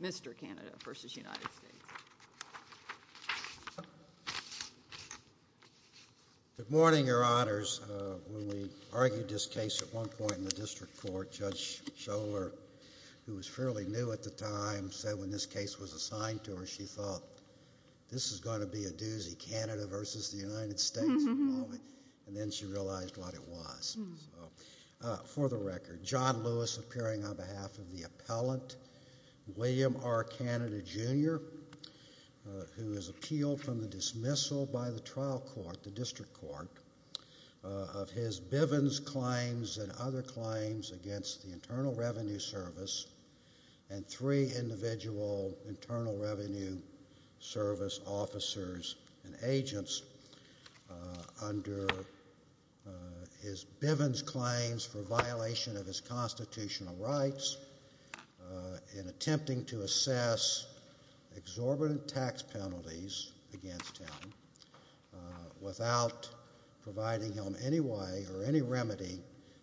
Mr. Canada v. United States Good morning, Your Honors. When we argued this case at one point in the district court, Judge Schoehler, who was fairly new at the time, said when this case was assigned to her, she thought this is going to be a doozy, Canada v. the United States, and then she realized what it was. For the record, John Lewis appearing on behalf of the appellant, William R. Canada, Jr., who was appealed from the dismissal by the trial court, the district court, of his Bivens claims and other claims against the Internal Revenue Service and three individual Internal Revenue Service officers and agents under his Bivens claims for violation of his constitutional rights in attempting to assess exorbitant tax penalties against him without providing him any way or any remedy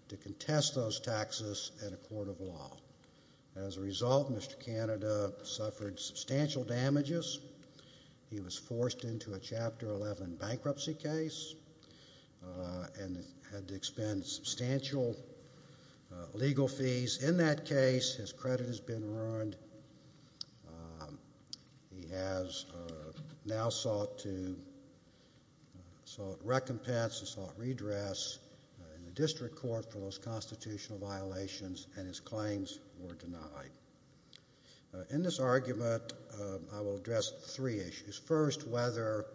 to contest those taxes at a court of law. As a result, Mr. Canada suffered substantial damages. He was forced into a Chapter 11 bankruptcy case. And had to expend substantial legal fees. In that case, his credit has been ruined. He has now sought to sought recompense and sought redress in the district court for those constitutional violations, and his claims were denied. In this argument, I will address three issues. First, whether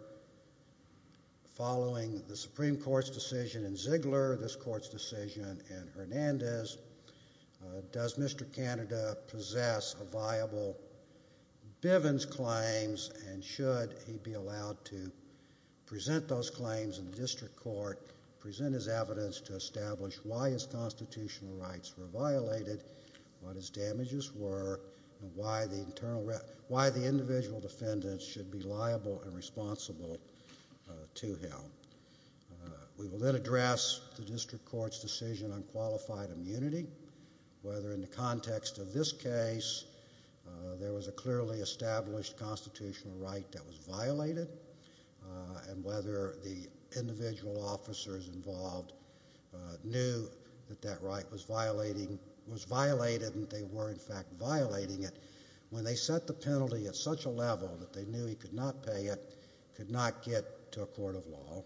following the Supreme Court's decision in Ziegler, this Court's decision in Hernandez, does Mr. Canada possess a viable Bivens claims, and should he be allowed to present those claims in the district court, present his evidence to establish why his constitutional rights were violated, what his damages were, and why the individual defendant should be liable and responsible to him. We will then address the district court's decision on qualified immunity, whether in the context of this case, there was a clearly established constitutional right that was violated, and whether the individual officers involved knew that that right was violated, and they were in fact violating it, when they set the penalty at such a level that they knew he could not pay it, could not get to a court of law.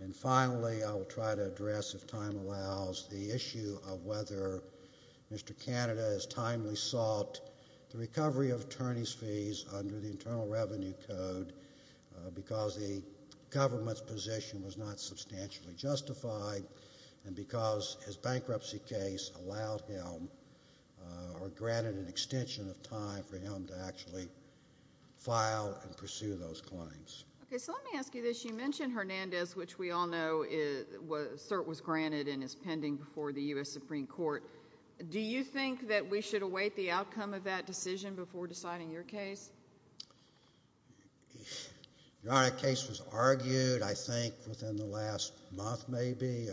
And finally, I will try to address, if time allows, the issue of whether Mr. Canada has timely sought the recovery of attorney's fees under the Internal Revenue Code, because the government's position was not substantially justified, and because his bankruptcy case allowed him, or granted an extension of time for him to actually file and pursue those claims. Okay, so let me ask you this. You mentioned Hernandez, which we all know CERT was granted and is pending before the U.S. Supreme Court. Do you think that we should await the outcome of that decision before deciding your case? Your honor, the case was argued, I think, within the last month maybe.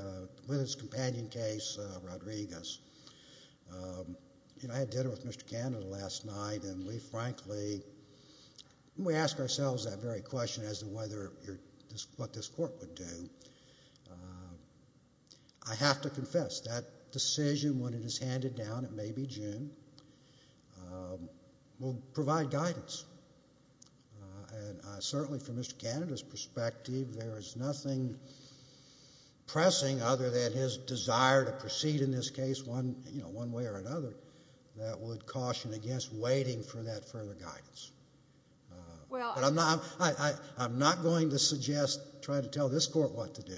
With his companion case, Rodriguez. You know, I had dinner with Mr. Canada last night, and we frankly, when we ask ourselves that very question as to what this court would do, I have to confess, that decision, when it is handed down, it may be June, will provide guidance. And certainly from Mr. Canada's perspective, there is nothing pressing other than his desire to proceed in this case one way or another that would caution against waiting for that further guidance. I'm not going to suggest trying to tell this court what to do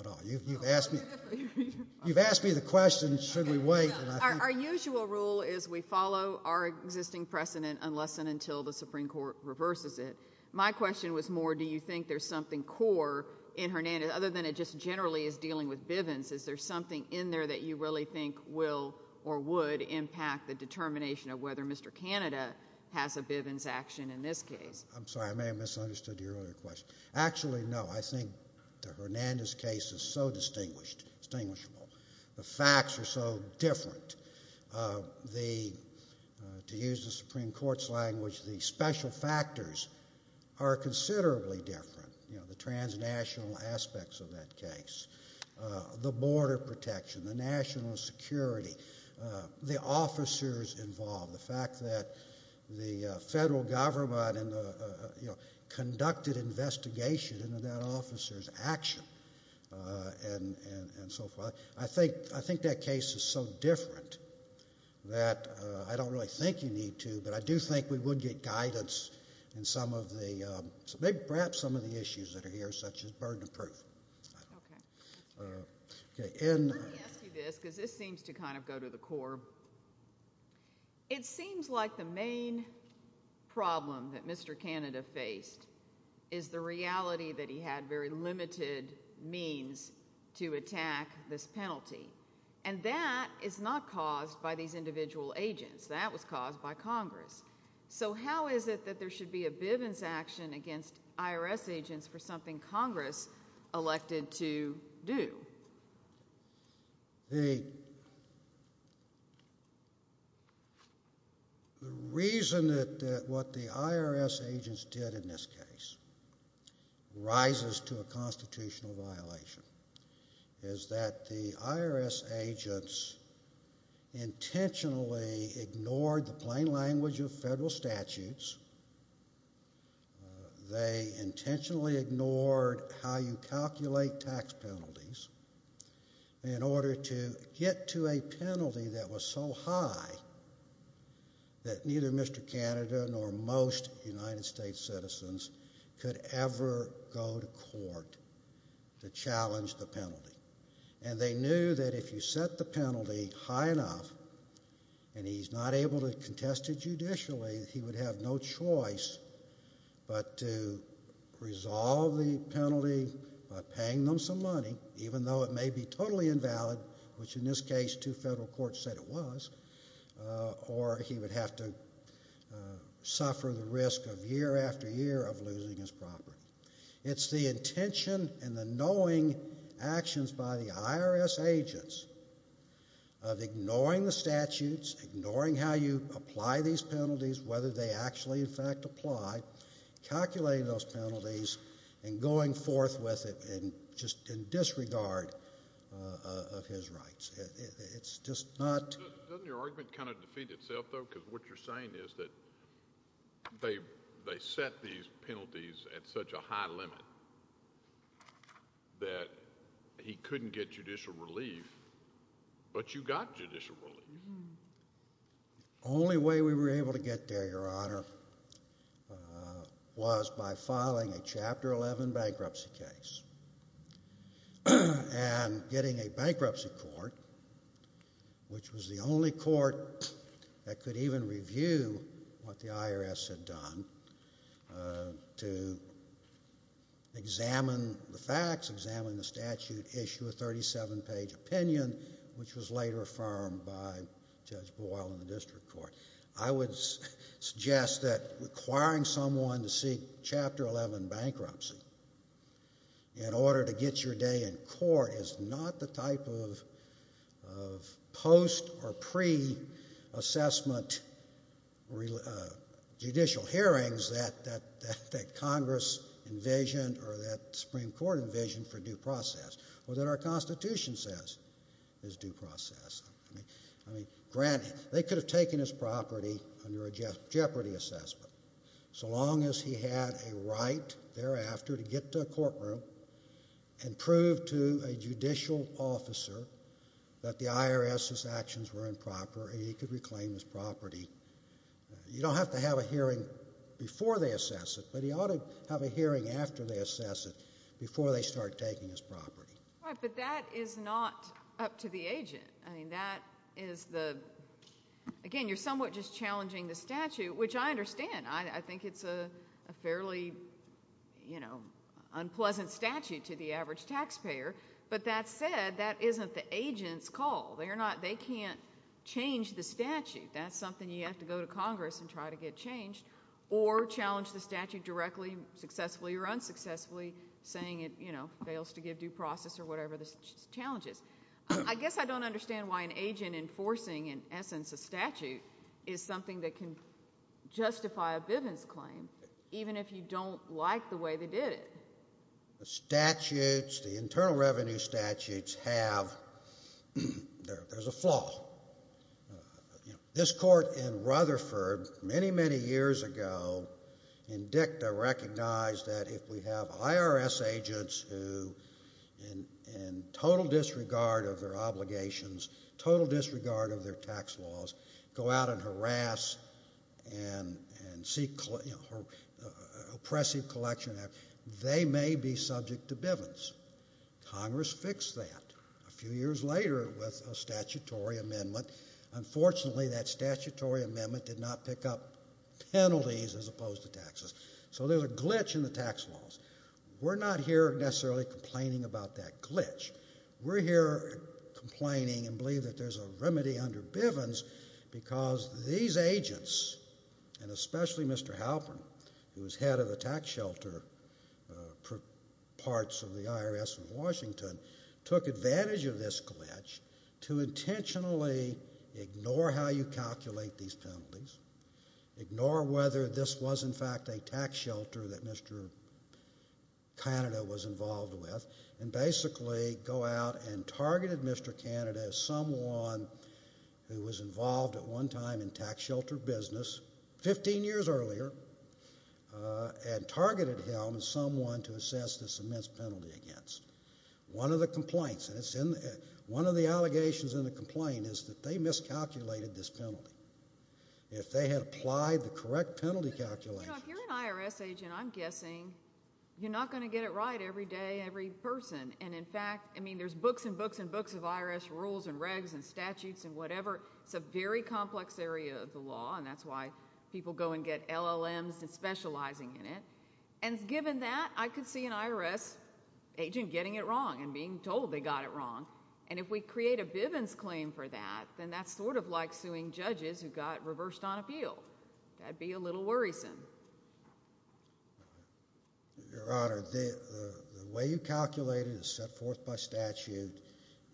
at all. You've asked me the question, should we wait? Our usual rule is we follow our existing precedent unless and until the Supreme Court reverses it. My question was more, do you think there's something core in Hernandez, other than it just generally is dealing with Bivens, is there something in there that you really think will or would impact the determination of whether Mr. Canada has a Bivens action in this case? I'm sorry, I may have misunderstood your earlier question. Actually, no. I think the Hernandez case is so distinguished, distinguishable. The facts are so different. To use the Supreme Court's language, the special factors are considerably different. You know, the transnational aspects of that case, the border protection, the national security, the officers involved, the fact that the federal government conducted investigation into that officer's action and so forth. I think that case is so different that I don't really think you need to, but I do think we would get guidance in some of the, perhaps some of the issues that are here, such as burden of proof. Okay. Let me ask you this, because this seems to kind of go to the core. It seems like the main problem that Mr. Canada faced is the reality that he had very limited means to attack this penalty, and that is not caused by these individual agents. That was caused by Congress. So how is it that there should be a Bivens action against IRS agents for something Congress elected to do? The reason that what the IRS agents did in this case rises to a constitutional violation is that the IRS agents intentionally ignored the plain language of federal statutes. They intentionally ignored how you calculate tax penalties in order to get to a penalty that was so high that neither Mr. Canada nor most United States citizens could ever go to court to challenge the penalty. And they knew that if you set the penalty high enough and he's not able to contest it judicially, he would have no choice but to resolve the penalty by paying them some money, even though it may be totally invalid, which in this case two federal courts said it was, or he would have to suffer the risk of year after year of losing his property. It's the intention and the knowing actions by the IRS agents of ignoring the statutes, ignoring how you apply these penalties, whether they actually in fact apply, calculating those penalties and going forth with it in disregard of his rights. It's just not— Doesn't your argument kind of defeat itself, though? Because what you're saying is that they set these penalties at such a high limit that he couldn't get judicial relief, but you got judicial relief. The only way we were able to get there, Your Honor, was by filing a Chapter 11 bankruptcy case and getting a bankruptcy court, which was the only court that could even review what the IRS had done, to examine the facts, examine the statute, issue a 37-page opinion, which was later affirmed by Judge Boyle in the district court. I would suggest that requiring someone to seek Chapter 11 bankruptcy in order to get your day in court is not the type of post- or pre-assessment judicial hearings that Congress envisioned or that the Supreme Court envisioned for due process or that our Constitution says is due process. I mean, granted, they could have taken his property under a jeopardy assessment. So long as he had a right thereafter to get to a courtroom and prove to a judicial officer that the IRS's actions were improper, he could reclaim his property. You don't have to have a hearing before they assess it, but he ought to have a hearing after they assess it before they start taking his property. Right, but that is not up to the agent. I mean, that is the— Again, you're somewhat just challenging the statute, which I understand. I think it's a fairly, you know, unpleasant statute to the average taxpayer. But that said, that isn't the agent's call. They can't change the statute. That's something you have to go to Congress and try to get changed or challenge the statute directly, successfully or unsuccessfully, saying it, you know, fails to give due process or whatever the challenge is. I guess I don't understand why an agent enforcing, in essence, a statute is something that can justify a Bivens claim, even if you don't like the way they did it. The statutes, the internal revenue statutes, have—there's a flaw. You know, this court in Rutherford, many, many years ago, in dicta recognized that if we have IRS agents who, in total disregard of their obligations, total disregard of their tax laws, go out and harass and seek, you know, oppressive collection, they may be subject to Bivens. Congress fixed that a few years later with a statutory amendment. Unfortunately, that statutory amendment did not pick up penalties as opposed to taxes. So there's a glitch in the tax laws. We're not here necessarily complaining about that glitch. We're here complaining and believe that there's a remedy under Bivens because these agents, and especially Mr. Halpern, who was head of the tax shelter for parts of the IRS in Washington, took advantage of this glitch to intentionally ignore how you calculate these penalties, ignore whether this was, in fact, a tax shelter that Mr. Canada was involved with, and basically go out and targeted Mr. Canada as someone who was involved in tax shelter business 15 years earlier and targeted him as someone to assess this immense penalty against. One of the complaints, one of the allegations in the complaint is that they miscalculated this penalty. If they had applied the correct penalty calculations... You know, if you're an IRS agent, I'm guessing you're not going to get it right every day, every person. And in fact, I mean, there's books and books and books of IRS rules and regs and statutes and whatever. It's a very complex area of the law, and that's why people go and get LLMs and specializing in it. And given that, I could see an IRS agent getting it wrong and being told they got it wrong. And if we create a Bivens claim for that, then that's sort of like suing judges who got reversed on appeal. That'd be a little worrisome. Your Honor, the way you calculate it is set forth by statute.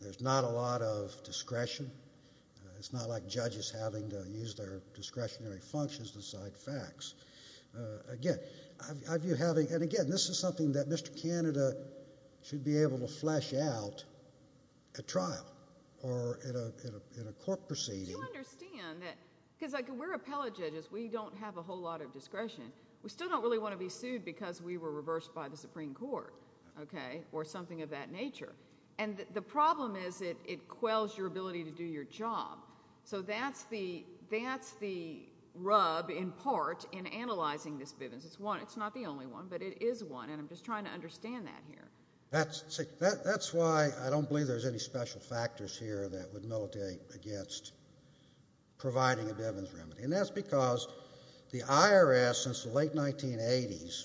There's not a lot of discretion. It's not like judges having to use their discretionary functions to cite facts. Again, I view having... And again, this is something that Mr. Canada should be able to flesh out at trial or in a court proceeding. Do you understand that... Because we're appellate judges. We don't have a whole lot of discretion. We still don't really want to be sued because we were reversed by the Supreme Court, okay, or something of that nature. And the problem is it quells your ability to do your job. So that's the rub, in part, in analyzing this Bivens. It's not the only one, but it is one, and I'm just trying to understand that here. That's why I don't believe there's any special factors here that would militate against providing a Bivens remedy. And that's because the IRS, since the late 1980s,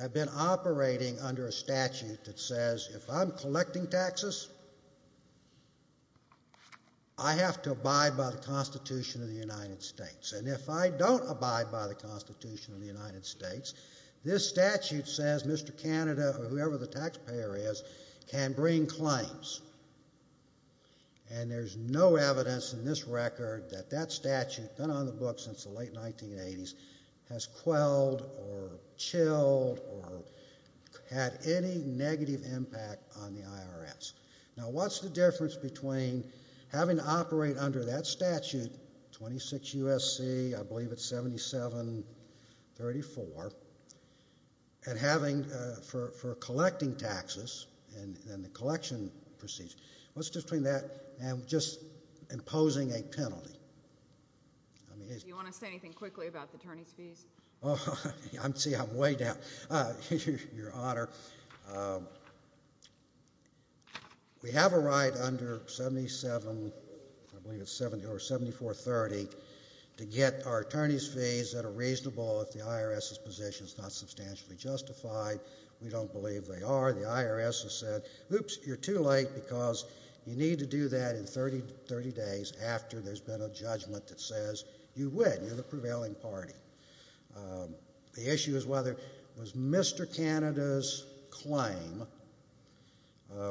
have been operating under a statute that says if I'm collecting taxes, I have to abide by the Constitution of the United States. And if I don't abide by the Constitution of the United States, this statute says Mr. Canada, or whoever the taxpayer is, can bring claims. And there's no evidence in this record that that statute, done on the books since the late 1980s, has quelled or chilled or had any negative impact on the IRS. Now, what's the difference between having to operate under that statute, 26 U.S.C., I believe it's 7734, and having, for collecting taxes, and the collection procedure, what's the difference between that and just imposing a penalty? Do you want to say anything quickly about the attorney's fees? See, I'm way down. Your Honor, we have a right under 77, I believe it's 70, or 7430, to get our attorney's fees that are reasonable if the IRS's position is not substantially justified. We don't believe they are. The IRS has said, oops, you're too late because you need to do that in 30 days after there's been a judgment that says you would. You're the prevailing party. The issue is whether, was Mr. Canada's claim,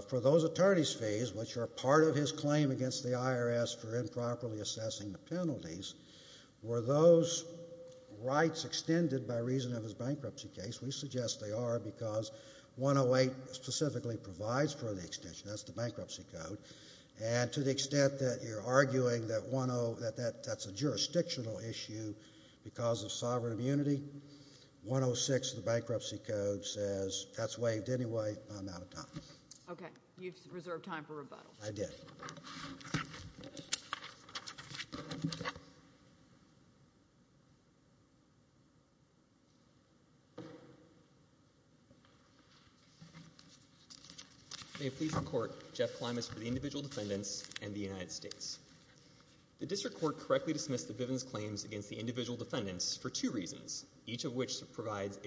for those attorney's fees, which are part of his claim against the IRS for improperly assessing the penalties, were those rights extended by reason of his bankruptcy case? We suggest they are because 108 specifically provides for the extension. That's the bankruptcy code. And to the extent that you're arguing that that's a jurisdictional issue because of sovereign immunity, 106 of the bankruptcy code says that's waived anyway because of the amount of time. Okay. You've reserved time for rebuttal. I did. May it please the Court, Jeff Klimas for the Individual Defendants and the United States. The District Court correctly dismissed the Bivens claims against the Individual Defendants for two reasons, each of which provides an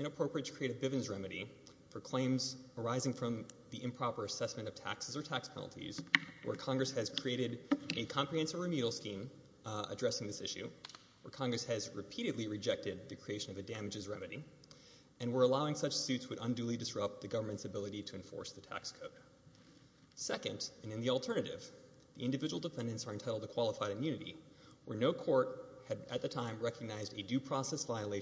inappropriate creative Bivens remedy for claims arising from the improper assessment of taxes or tax penalties where Congress has created a comprehensive remedial scheme addressing this issue, where Congress has repeatedly rejected the creation of a damages remedy, and were allowing such suits would unduly disrupt the government's ability to enforce the tax code. Second, and in the alternative, the Individual Defendants are entitled to qualified immunity where no court had at the time considered the Bivens claim.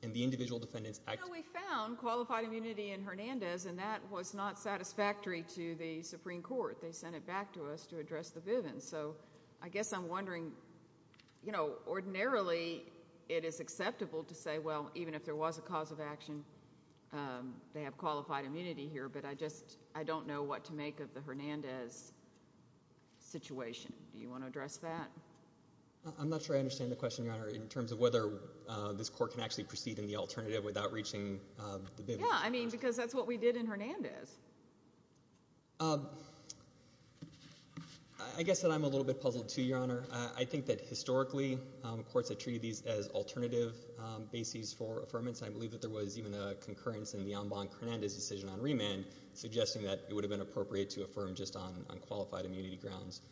And the Individual Defendants act— You know, we found qualified immunity in Hernandez, and that was not satisfactory to the Supreme Court. They sent it back to us to address the Bivens. So I guess I'm wondering, you know, ordinarily it is acceptable to say, well, even if there was a cause of action, they have qualified immunity here, but I just, I don't know what to make of the Hernandez situation. Do you want to address that? I'm not sure I understand the question, Your Honor, in terms of whether this court can actually proceed in the alternative without reaching the Bivens. Yeah, I mean, because that's what we did in Hernandez. I guess that I'm a little bit puzzled too, Your Honor. I think that historically courts have treated these as alternative bases for affirmance, and I believe that there was even a concurrence in the Ambon-Hernandez decision on remand suggesting that it would have been appropriate to affirm just on qualified immunity grounds.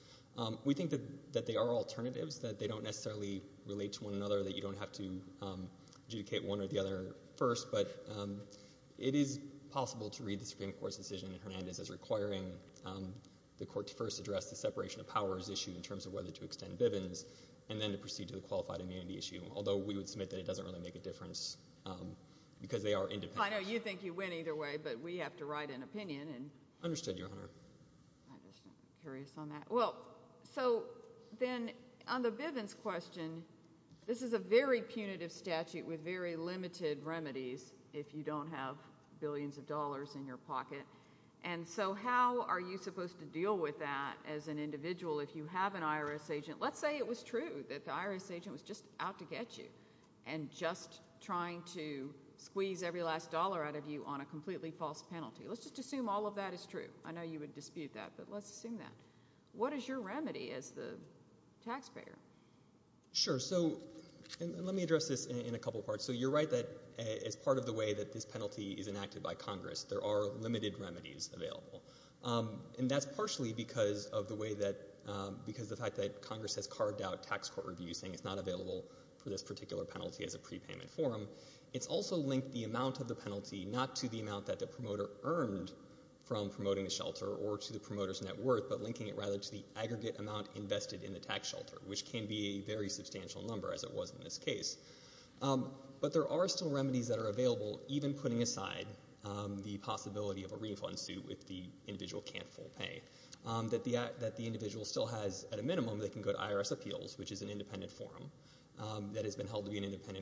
We think that they are alternatives, that they don't necessarily relate to one another, that you don't have to adjudicate one or the other first, but it is possible to read the Supreme Court's decision in Hernandez as requiring the court to first address the separation of powers issue in terms of whether to extend Bivens, and then to proceed to the qualified immunity issue, although we would submit that it doesn't really make a difference because they are independent. I know you think you win either way, but we have to write an opinion. Understood, Your Honor. I'm just curious on that. Well, so then on the Bivens question, this is a very punitive statute with very limited remedies if you don't have billions of dollars in your pocket, and so how are you supposed to deal with that as an individual if you have an IRS agent? Let's say it was true and just trying to squeeze every last dollar out of you on a completely false penalty. Let's just assume all of that is true. I know you would dispute that, but let's assume that. What is your remedy as the taxpayer? Sure, so, and let me address this in a couple parts. So you're right that as part of the way that this penalty is enacted by Congress, there are limited remedies available, and that's partially because of the way that, because the fact that Congress has carved out tax court reviews as a prepayment form, it's also linked the amount of the penalty not to the amount that the promoter earned from promoting the shelter or to the promoter's net worth, but linking it rather to the aggregate amount invested in the tax shelter, which can be a very substantial number as it was in this case. But there are still remedies that are available even putting aside the possibility of a refund suit if the individual can't full pay, that the individual still has, at a minimum, they can go to IRS appeals, which is a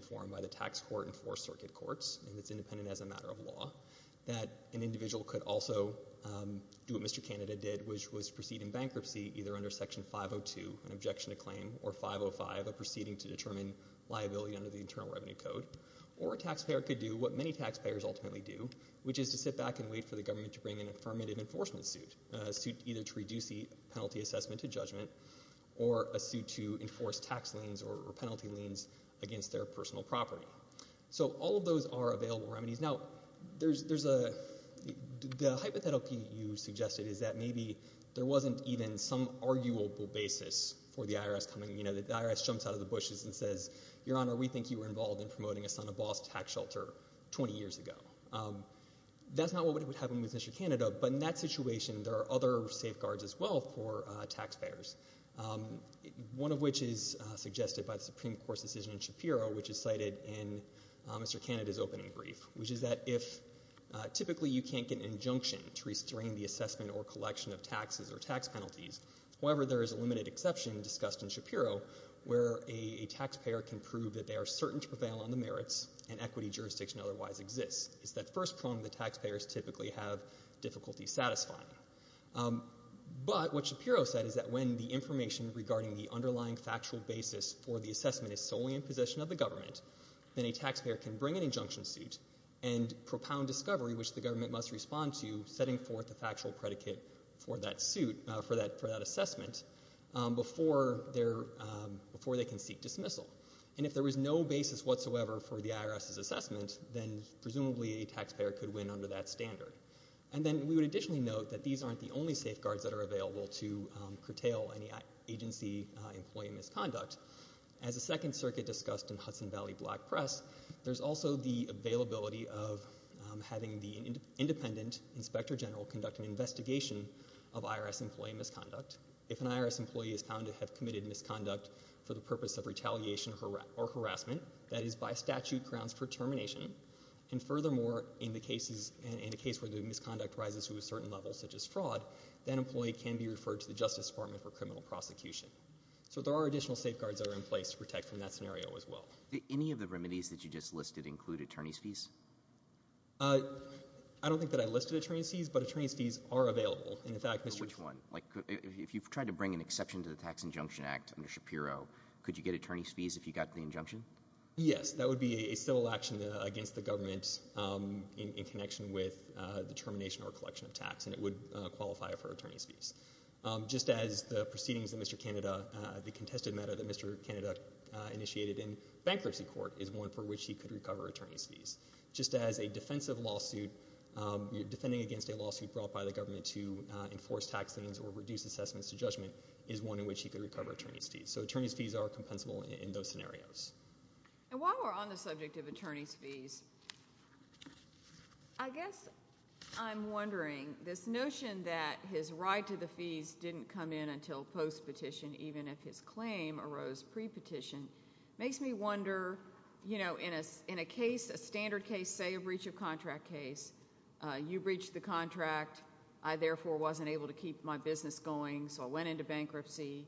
form by the tax court and four circuit courts, and it's independent as a matter of law, that an individual could also do what Mr. Canada did, which was proceed in bankruptcy either under Section 502, an objection to claim, or 505, a proceeding to determine liability under the Internal Revenue Code, or a taxpayer could do what many taxpayers ultimately do, which is to sit back and wait for the government to bring an affirmative enforcement suit, which is a property. So all of those are available remedies. Now, there's a, the hypothetical you suggested is that maybe there wasn't even some arguable basis for the IRS coming, you know, the IRS jumps out of the bushes and says, Your Honor, we think you were involved in promoting a son of boss tax shelter 20 years ago. That's not what would happen with Mr. Canada, but in that situation, there are other safeguards as well for taxpayers, one of which is suggested in Mr. Canada's opening brief, which is that if typically you can't get an injunction to restrain the assessment or collection of taxes or tax penalties, however, there is a limited exception discussed in Shapiro where a taxpayer can prove that they are certain to prevail on the merits and equity jurisdiction otherwise exists. It's that first prong that taxpayers typically have difficulty satisfying. But what Shapiro said is that when the information regarding the underlying factual basis then a taxpayer can bring an injunction suit and propound discovery, which the government must respond to, setting forth the factual predicate for that assessment before they can seek dismissal. And if there was no basis whatsoever for the IRS's assessment, then presumably a taxpayer could win under that standard. And then we would additionally note that these aren't the only safeguards that are available to curtail any agency employee misconduct. As the Second Circuit discussed in Hudson Valley Black Press, there's also the availability of having the independent inspector general conduct an investigation of IRS employee misconduct. If an IRS employee is found to have committed misconduct for the purpose of retaliation or harassment, that is by statute grounds for termination, and furthermore, in the cases, in a case where the misconduct rises to a certain level such as fraud, that employee can be referred to the Justice Department for criminal prosecution. So there are additional safeguards that are in place to protect from that scenario as well. Any of the remedies that you just listed include attorney's fees? I don't think that I listed attorney's fees, but attorney's fees are available. Which one? If you've tried to bring an exception to the Tax Injunction Act under Shapiro, could you get attorney's fees if you got the injunction? Yes, that would be a civil action against the government in connection with the termination or collection of tax, and it would qualify for attorney's fees. Just as the proceedings that Mr. Canada, the contested matter that Mr. Canada initiated in bankruptcy court is one for which he could recover attorney's fees. Just as a defensive lawsuit, defending against a lawsuit brought by the government to enforce tax sentence or reduce assessments to judgment is one in which he could recover attorney's fees. So attorney's fees are compensable in those scenarios. And while we're on the subject of attorney's fees, I guess I'm wondering this notion that his right to attorney's fees didn't come in until post-petition, even if his claim arose pre-petition, makes me wonder, in a standard case, say a breach of contract case, you breached the contract, I therefore wasn't able to keep my business going, so I went into bankruptcy,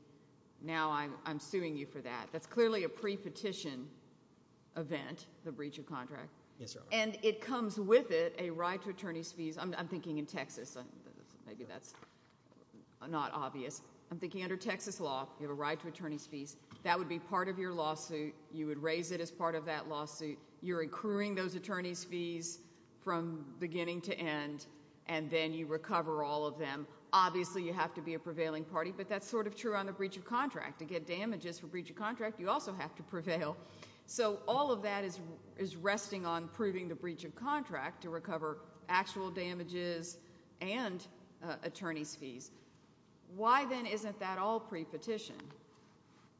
now I'm suing you for that. That's clearly a pre-petition event, the breach of contract. And it comes with it a right to attorney's fees. I'm thinking in Texas, maybe that's not obvious. I'm thinking under Texas law, you have a right to attorney's fees. That would be part of your lawsuit. You would raise it as part of that lawsuit. You're accruing those attorney's fees from beginning to end, and then you recover all of them. Obviously you have to be a prevailing party, but that's sort of true on the breach of contract. To get damages for breach of contract, you also have to prevail. So all of that is resting on proving the breach of contract with damages and attorney's fees. Why then isn't that all pre-petition?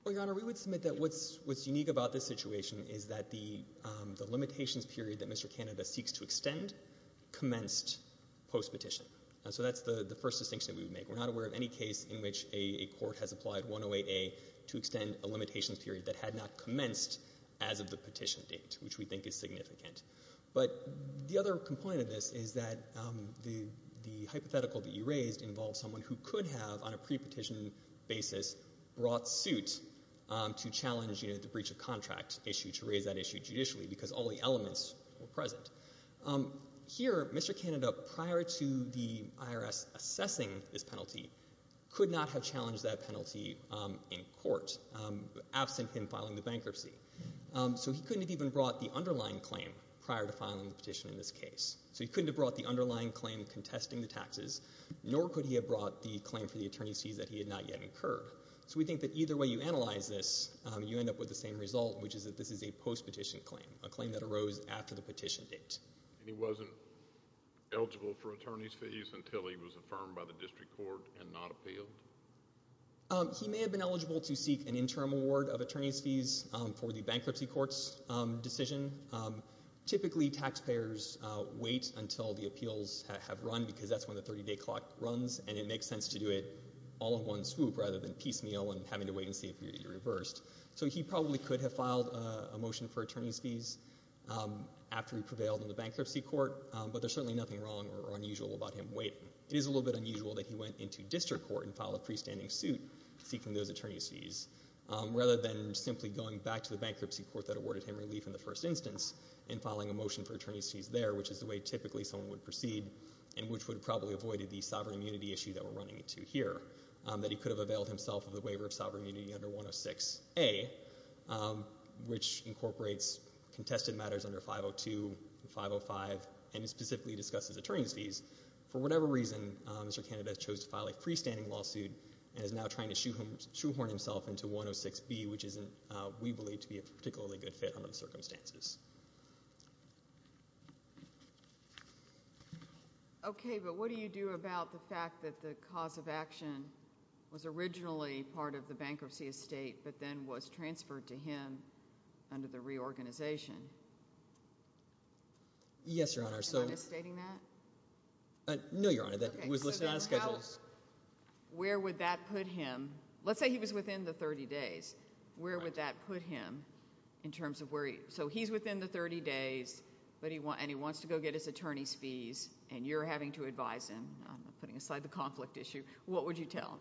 Your Honor, we would submit that what's unique about this situation is that the limitations period that Mr. Canada seeks to extend commenced post-petition. So that's the first distinction we would make. We're not aware of any case in which a court has applied 108A to extend a limitations period that had not commenced as of the petition date, which we think is significant. But the other component of this is that the hypothetical that you raised involves someone who could have, on a pre-petition basis, brought suit to challenge the breach of contract issue to raise that issue judicially because all the elements were present. Here, Mr. Canada, prior to the IRS assessing this penalty, could not have challenged that penalty in court absent him filing the bankruptcy. So he couldn't have even brought the underlying claim prior to filing the petition in this case. He couldn't have brought the claim contesting the taxes, nor could he have brought the claim for the attorney's fees that he had not yet incurred. So we think that either way you analyze this, you end up with the same result, which is that this is a post-petition claim, a claim that arose after the petition date. And he wasn't eligible for attorney's fees until he was affirmed by the district court and not appealed? He may have been eligible to seek an interim award of attorney's fees for the bankruptcy court's decision. Typically, taxpayers wait until they have run because that's when the 30-day clock runs, and it makes sense to do it all in one swoop rather than piecemeal and having to wait and see if you're reversed. So he probably could have filed a motion for attorney's fees after he prevailed in the bankruptcy court, but there's certainly nothing wrong or unusual about him waiting. It is a little bit unusual that he went into district court and filed a freestanding suit seeking those attorney's fees rather than simply going back to his previous position, and which would have probably avoided the sovereign immunity issue that we're running into here, that he could have availed himself of the waiver of sovereign immunity under 106A, which incorporates contested matters under 502 and 505 and specifically discusses attorney's fees. For whatever reason, Mr. Canada chose to file a freestanding lawsuit and is now trying to shoehorn himself into 106B, which isn't, we believe, a good place to go. Okay, but what do you do about the fact that the cause of action was originally part of the bankruptcy estate but then was transferred to him under the reorganization? Yes, Your Honor. Am I misstating that? No, Your Honor. That was listed on the schedule. Where would that put him? Let's say he was within the 30 days. Where would that put him in terms of where he, so he's within the 30 days of having to advise him putting aside the conflict issue. What would you tell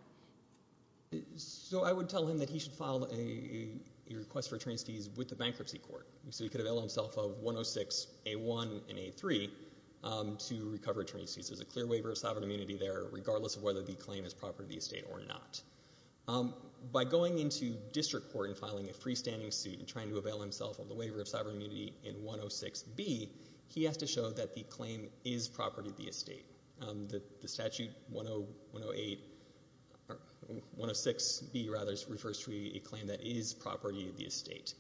him? So I would tell him that he should file a request for attorney's fees with the bankruptcy court so he could avail himself of 106A1 and A3 to recover attorney's fees. There's a clear waiver of sovereign immunity there regardless of whether the claim is property of the estate or not. By going into district court and filing a freestanding suit and trying to avail himself of the waiver of sovereign immunity in 106B, the statute 106B, rather, refers to a claim that is property of the estate.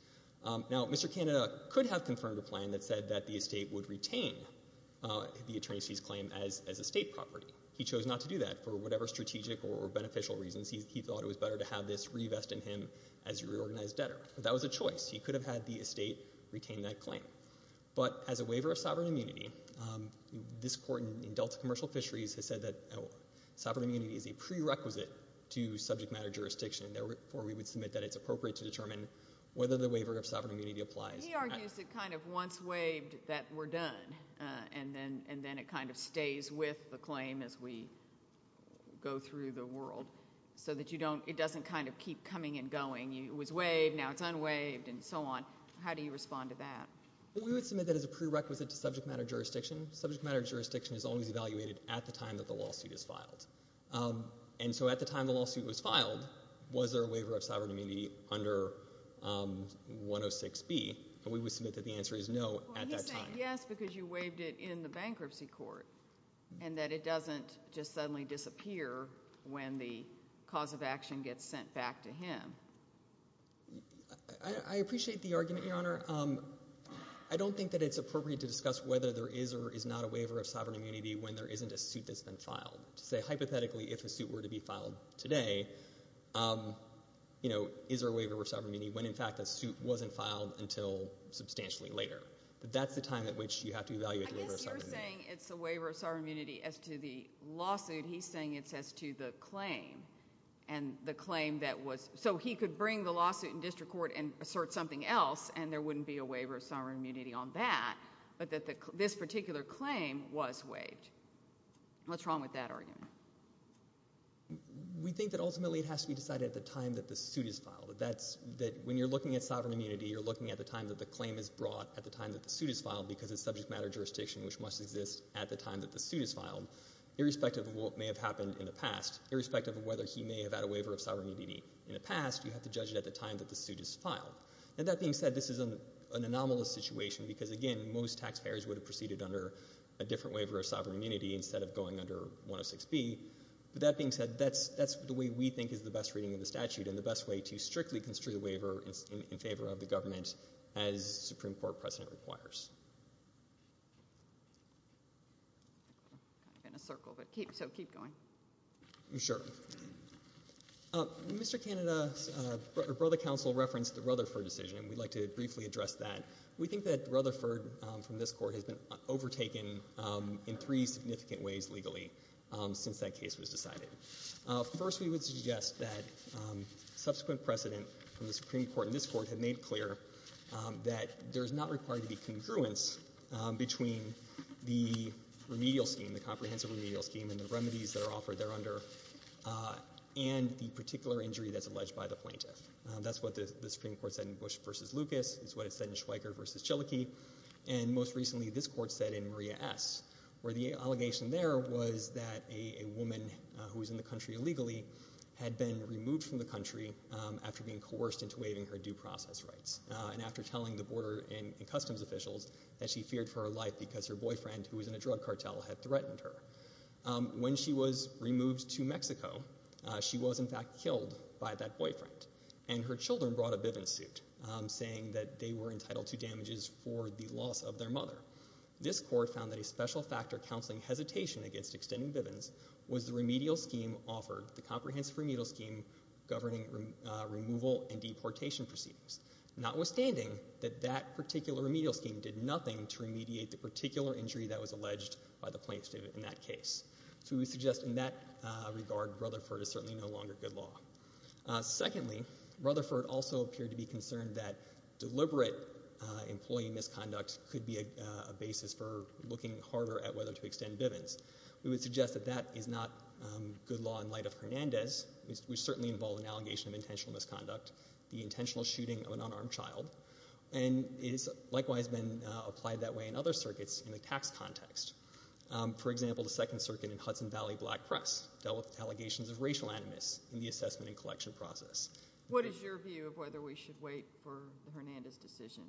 Now, Mr. Canada could have confirmed a plan that said that the estate would retain the attorney's fees claim as estate property. He chose not to do that for whatever strategic or beneficial reasons. He thought it was better to have this revest in him as a reorganized debtor. That was a choice. He could have had the estate retain that claim. But as a waiver of sovereign immunity, the U.S. Commercial Fisheries has said that sovereign immunity is a prerequisite to subject matter jurisdiction. Therefore, we would submit that it's appropriate to determine whether the waiver of sovereign immunity applies. He argues it kind of once waived that we're done and then it kind of stays with the claim as we go through the world so that you don't, it doesn't kind of keep coming and going. It was waived. Now it's unwaived and so on. How do you respond to that? It's unwaived and so on. that the waiver of sovereign immunity was evaluated at the time that the lawsuit is filed. And so at the time the lawsuit was filed, was there a waiver of sovereign immunity under 106B? And we would submit that the answer is no at that time. Well, he's saying yes because you waived it in the bankruptcy court and that it doesn't just suddenly disappear when the cause of action gets sent back to him. There isn't a suit that's been filed to say hypothetically if a suit were to be filed today, is there a waiver of sovereign immunity when in fact that suit wasn't filed until substantially later. But that's the time at which you have to evaluate the waiver of sovereign immunity. I guess you're saying it's a waiver of sovereign immunity as to the lawsuit. He's saying it's as to the claim and the claim that was, so he could bring the lawsuit in district court and assert something else and there wouldn't be a waiver of sovereign immunity. What's wrong with that argument? We think that ultimately it has to be decided at the time that the suit is filed. When you're looking at sovereign immunity, you're looking at the time that the claim is brought at the time that the suit is filed because it's subject matter jurisdiction which must exist at the time that the suit is filed irrespective of what may have happened in the past. Irrespective of whether he may have had a waiver of sovereign immunity in the past, instead of going under 106B. But that being said, that's the way we think is the best reading of the statute and the best way to strictly construe the waiver in favor of the government as Supreme Court precedent requires. I'm kind of in a circle, so keep going. Sure. Mr. Canada, your brother counsel referenced the Rutherford decision and we'd like to briefly address that. We think that Rutherford from this court has been raised legally since that case was decided. First, we would suggest that subsequent precedent from the Supreme Court in this court had made clear that there's not required to be congruence between the remedial scheme, the comprehensive remedial scheme and the remedies that are offered there under and the particular injury that's alleged by the plaintiff. That's what the Supreme Court said in Bush v. Lucas. It's what it said in Schweiker v. Chilokee where it was that a woman who was in the country illegally had been removed from the country after being coerced into waiving her due process rights and after telling the border and customs officials that she feared for her life because her boyfriend who was in a drug cartel had threatened her. When she was removed to Mexico, she was in fact killed by that boyfriend and her children brought a Bivens suit saying that they were entitled to damages for the loss of their mother. The Supreme Court's ruling against extending Bivens was the remedial scheme offered, the comprehensive remedial scheme governing removal and deportation proceedings. Notwithstanding that that particular remedial scheme did nothing to remediate the particular injury that was alleged by the plaintiff in that case. So we suggest in that regard Rutherford is certainly no longer good law. Secondly, Rutherford also appeared to be concerned that deliberate employee misconduct could be a basis for the death penalty. We would suggest that that is not good law in light of Hernandez. We certainly involve an allegation of intentional misconduct, the intentional shooting of an unarmed child and it has likewise been applied that way in other circuits in the tax context. For example, the Second Circuit and Hudson Valley Black Press dealt with allegations of racial animus in the assessment and collection process. What is your view of whether we should wait for the Hernandez decision?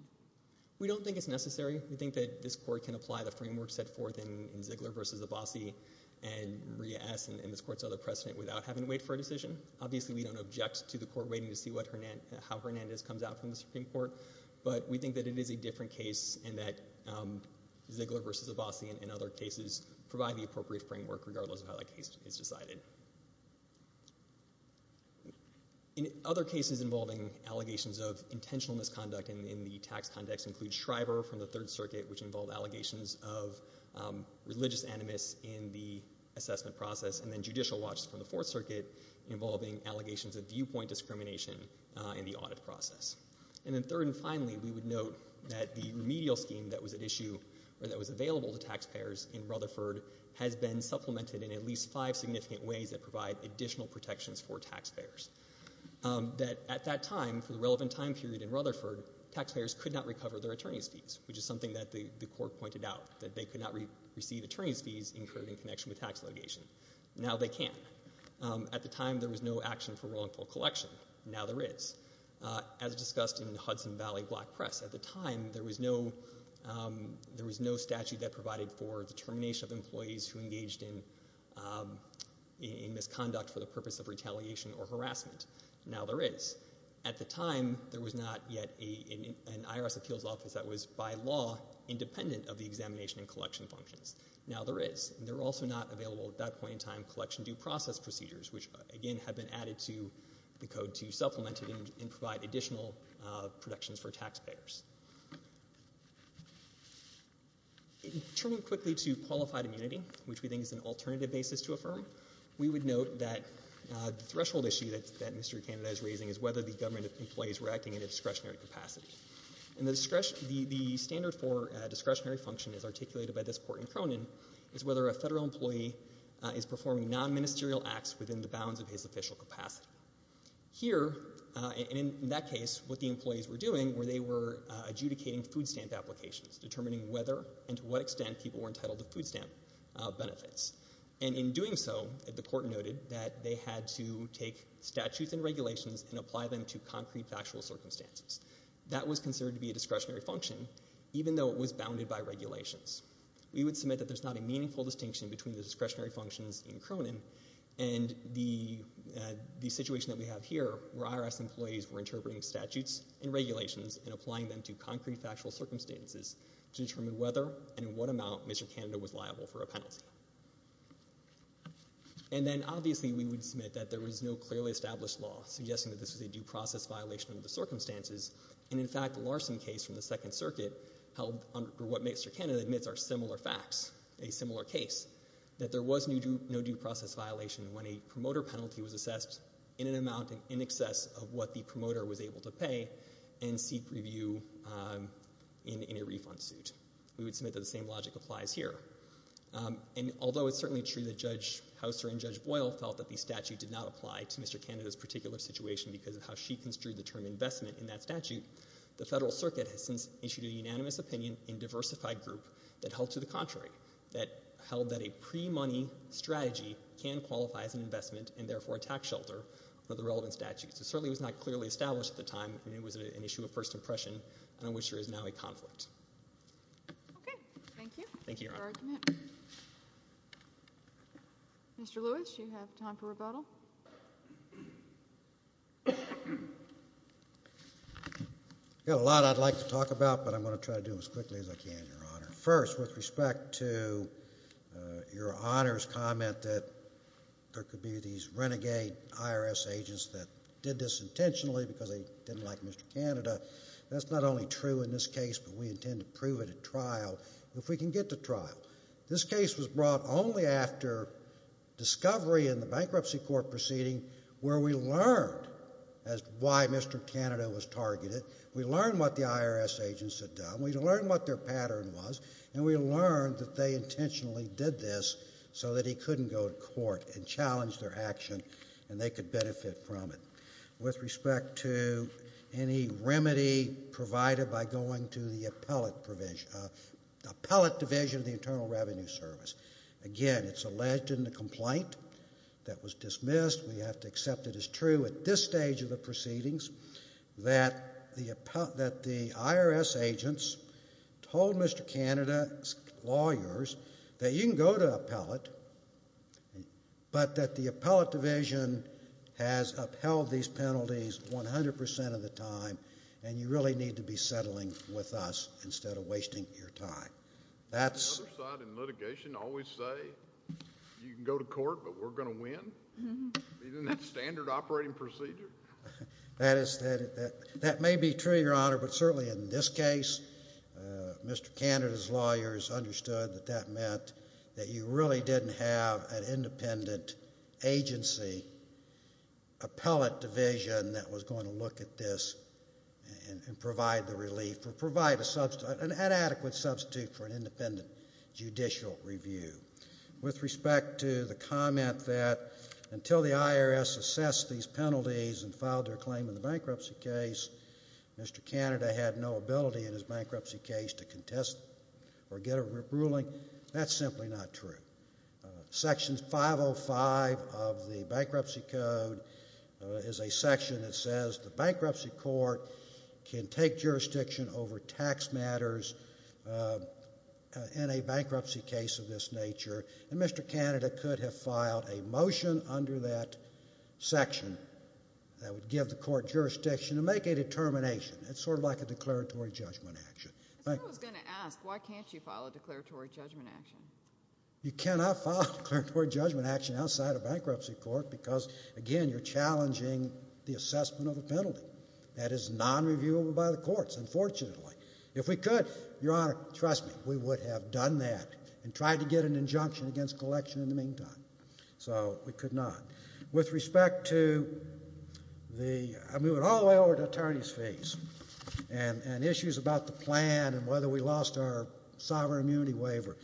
We don't think it's necessary. And Maria S. and this court saw the precedent without having to wait for a decision. Obviously we don't object to the court waiting to see how Hernandez comes out from the Supreme Court. But we think that it is a different case and that Ziegler versus Abbasi and other cases provide the appropriate framework regardless of how that case is decided. Other cases involving allegations of intentional misconduct in the tax context include Shriver from the Third Circuit which involved allegations of religious animus in the assessment process and then Judicial Watch from the Fourth Circuit involving allegations of viewpoint discrimination in the audit process. And then third and finally we would note that the remedial scheme that was at issue or that was available to taxpayers in Rutherford has been supplemented in at least five significant ways that provide additional protections for taxpayers. That at that time, for the relevant time period in Rutherford, taxpayers could not recover their attorney's fees which is something that the court pointed out that they could not receive attorney's fees in relation to tax litigation. Now they can. At the time there was no action for wrongful collection. Now there is. As discussed in Hudson Valley Black Press, at the time there was no statute that provided for the termination of employees who engaged in misconduct for the purpose of retaliation or harassment. Now there is. At the time there was not yet an IRS appeals office that was by law independent of the examination and collection functions. There were not available at that point in time collection due process procedures which again have been added to the code to supplement it and provide additional protections for taxpayers. Turning quickly to qualified immunity which we think is an alternative basis to affirm, we would note that the threshold issue that Mr. Canada is raising is whether the government employees were acting in a discretionary capacity. And the standard for discretionary function as articulated by this court in Cronin is whether a federal employee is performing non-ministerial acts within the bounds of his official capacity. Here, and in that case, what the employees were doing were they were adjudicating food stamp applications, determining whether and to what extent people were entitled to food stamp benefits. And in doing so, the court noted that they had to take statutes and regulations and apply them to concrete factual circumstances. That was considered to be a discretionary function even though it was bounded by regulations. We would submit that there is not a meaningful distinction between the discretionary functions in Cronin and the situation that we have here where IRS employees were interpreting statutes and regulations and applying them to concrete factual circumstances to determine whether and in what amount Mr. Canada was liable for a penalty. And then obviously we would submit that there was no clearly established law suggesting that this was a due process violation of the circumstances. And in fact, the Larson case from the Second Circuit held under what Mr. Canada admits in a similar case that there was no due process violation when a promoter penalty was assessed in an amount in excess of what the promoter was able to pay and seek review in a refund suit. We would submit that the same logic applies here. And although it's certainly true that Judge Hauser and Judge Boyle felt that the statute did not apply to Mr. Canada's particular situation because of how she construed the term investment in that statute, the Federal Circuit has since issued a ruling that held that a pre-money strategy can qualify as an investment and therefore a tax shelter for the relevant statute. So it certainly was not clearly established at the time and it was an issue of first impression and I'm sure is now a conflict. Okay. Thank you. Thank you, Your Honor. Mr. Lewis, you have time for rebuttal. I've got a lot I'd like to talk about but I'm going to try to do it as quickly as I can, Your Honor. First, with respect to Your Honor's comment that there could be these renegade IRS agents that did this intentionally because they didn't like Mr. Canada, that's not only true in this case but we intend to prove it at trial if we can get to trial. This case was brought only after discovery in the bankruptcy court proceeding where we learned why Mr. Canada was targeted. We learned what the IRS agents had done. We learned what their pattern was and we learned that they intentionally did this so that he couldn't go to court and challenge their action and they could benefit from it. With respect to any remedy provided by going to the appellate division of the Internal Revenue Service, again, it's alleged in the complaint that was dismissed. We have to accept it as true at this stage of the proceedings that the IRS agents told Mr. Canada's lawyers that you can go to appellate but that the appellate division has upheld these penalties 100% of the time and you really need to be settling with us instead of wasting your time. The other side in litigation always say you can go to court but we're going to win? Isn't that standard operating procedure? That may be true, Your Honor, but certainly in this case Mr. Canada's lawyers understood that that meant that you really didn't have an independent agency appellate division that was going to look at this and provide the relief or provide an adequate substitute for an independent judicial review. With respect to the comment that until the IRS assessed these penalties and filed their claim in the bankruptcy case, Mr. Canada had no ability in his bankruptcy case to contest or get a ruling, that's simply not true. Section 505 of the Bankruptcy Code is a section that says the bankruptcy court can take jurisdiction over tax matters in a bankruptcy case of this nature and Mr. Canada could have filed a motion under that section that would give the court jurisdiction to make a determination. It's sort of like a declaratory judgment action. If I was going to ask, why can't you file a declaratory judgment action? You cannot file a declaratory judgment action outside a bankruptcy court because, again, you're challenging the assessment of a penalty. That is non-reviewable by the courts, unfortunately. If we could, Your Honor, trust me, we would have done that and tried to get an injunction against collection in the meantime. So we could not. I'm moving all the way over to attorney's fees and issues about the plan and whether we lost our sovereign immunity waiver.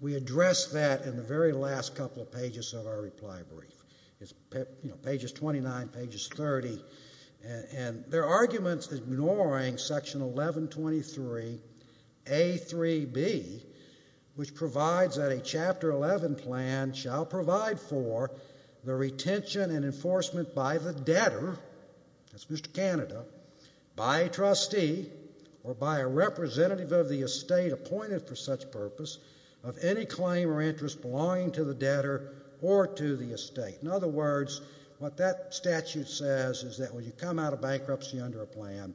We addressed that in the very last couple of pages of our reply brief. It's pages 29, pages 30, and there are arguments ignoring section 1123A.3.B, which provides that a Chapter 11 plan shall provide for the retention and enforcement by the debtor, that's Mr. Canada, by a trustee or by a representative of the estate appointed for such purpose of any claim or interest belonging to the debtor or to the estate. In other words, what that statute says is that when you come out of bankruptcy under a plan,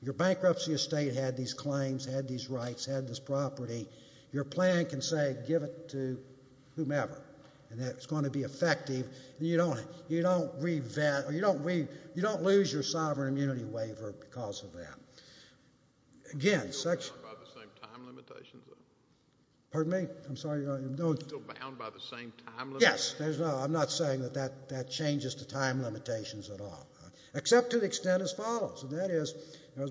your bankruptcy estate had these claims, had these rights, had this property. Your plan can say, give it to whomever, or you don't lose your sovereign immunity waiver because of that. Again, section... Pardon me? I'm sorry. Yes. I'm not saying that that changes the time limitations at all. Except to the extent as follows, and that is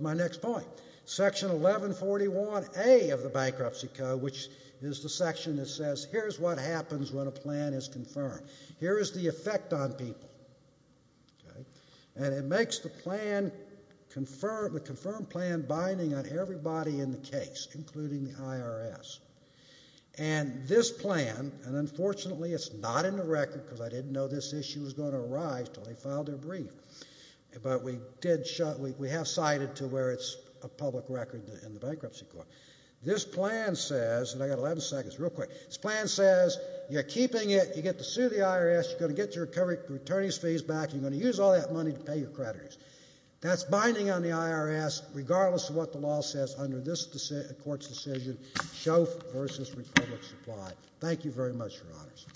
my next point. Section 1141A of the Bankruptcy Code, which is the section that says here's what happens when a plan is confirmed. Okay? And it makes the plan confirm, the confirmed plan binding on everybody in the case, including the IRS. And this plan, and unfortunately it's not in the record because I didn't know this issue was going to arise until they filed their brief, but we did, we have cited to where it's a public record in the Bankruptcy Code. This plan says, and I've got 11 seconds, real quick. This plan says you're keeping it, you're going to use all that money to pay your creditors. That's binding on the IRS regardless of what the law says under this court's decision, Shoff v. Republic Supply. Thank you very much, Your Honors.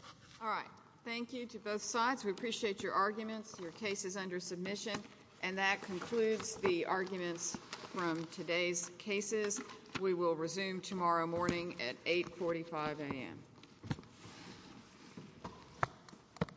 All right. Thank you to both sides. We appreciate your arguments, your cases under submission. And that concludes the arguments from today's cases. We will resume tomorrow morning at 8.45 a.m.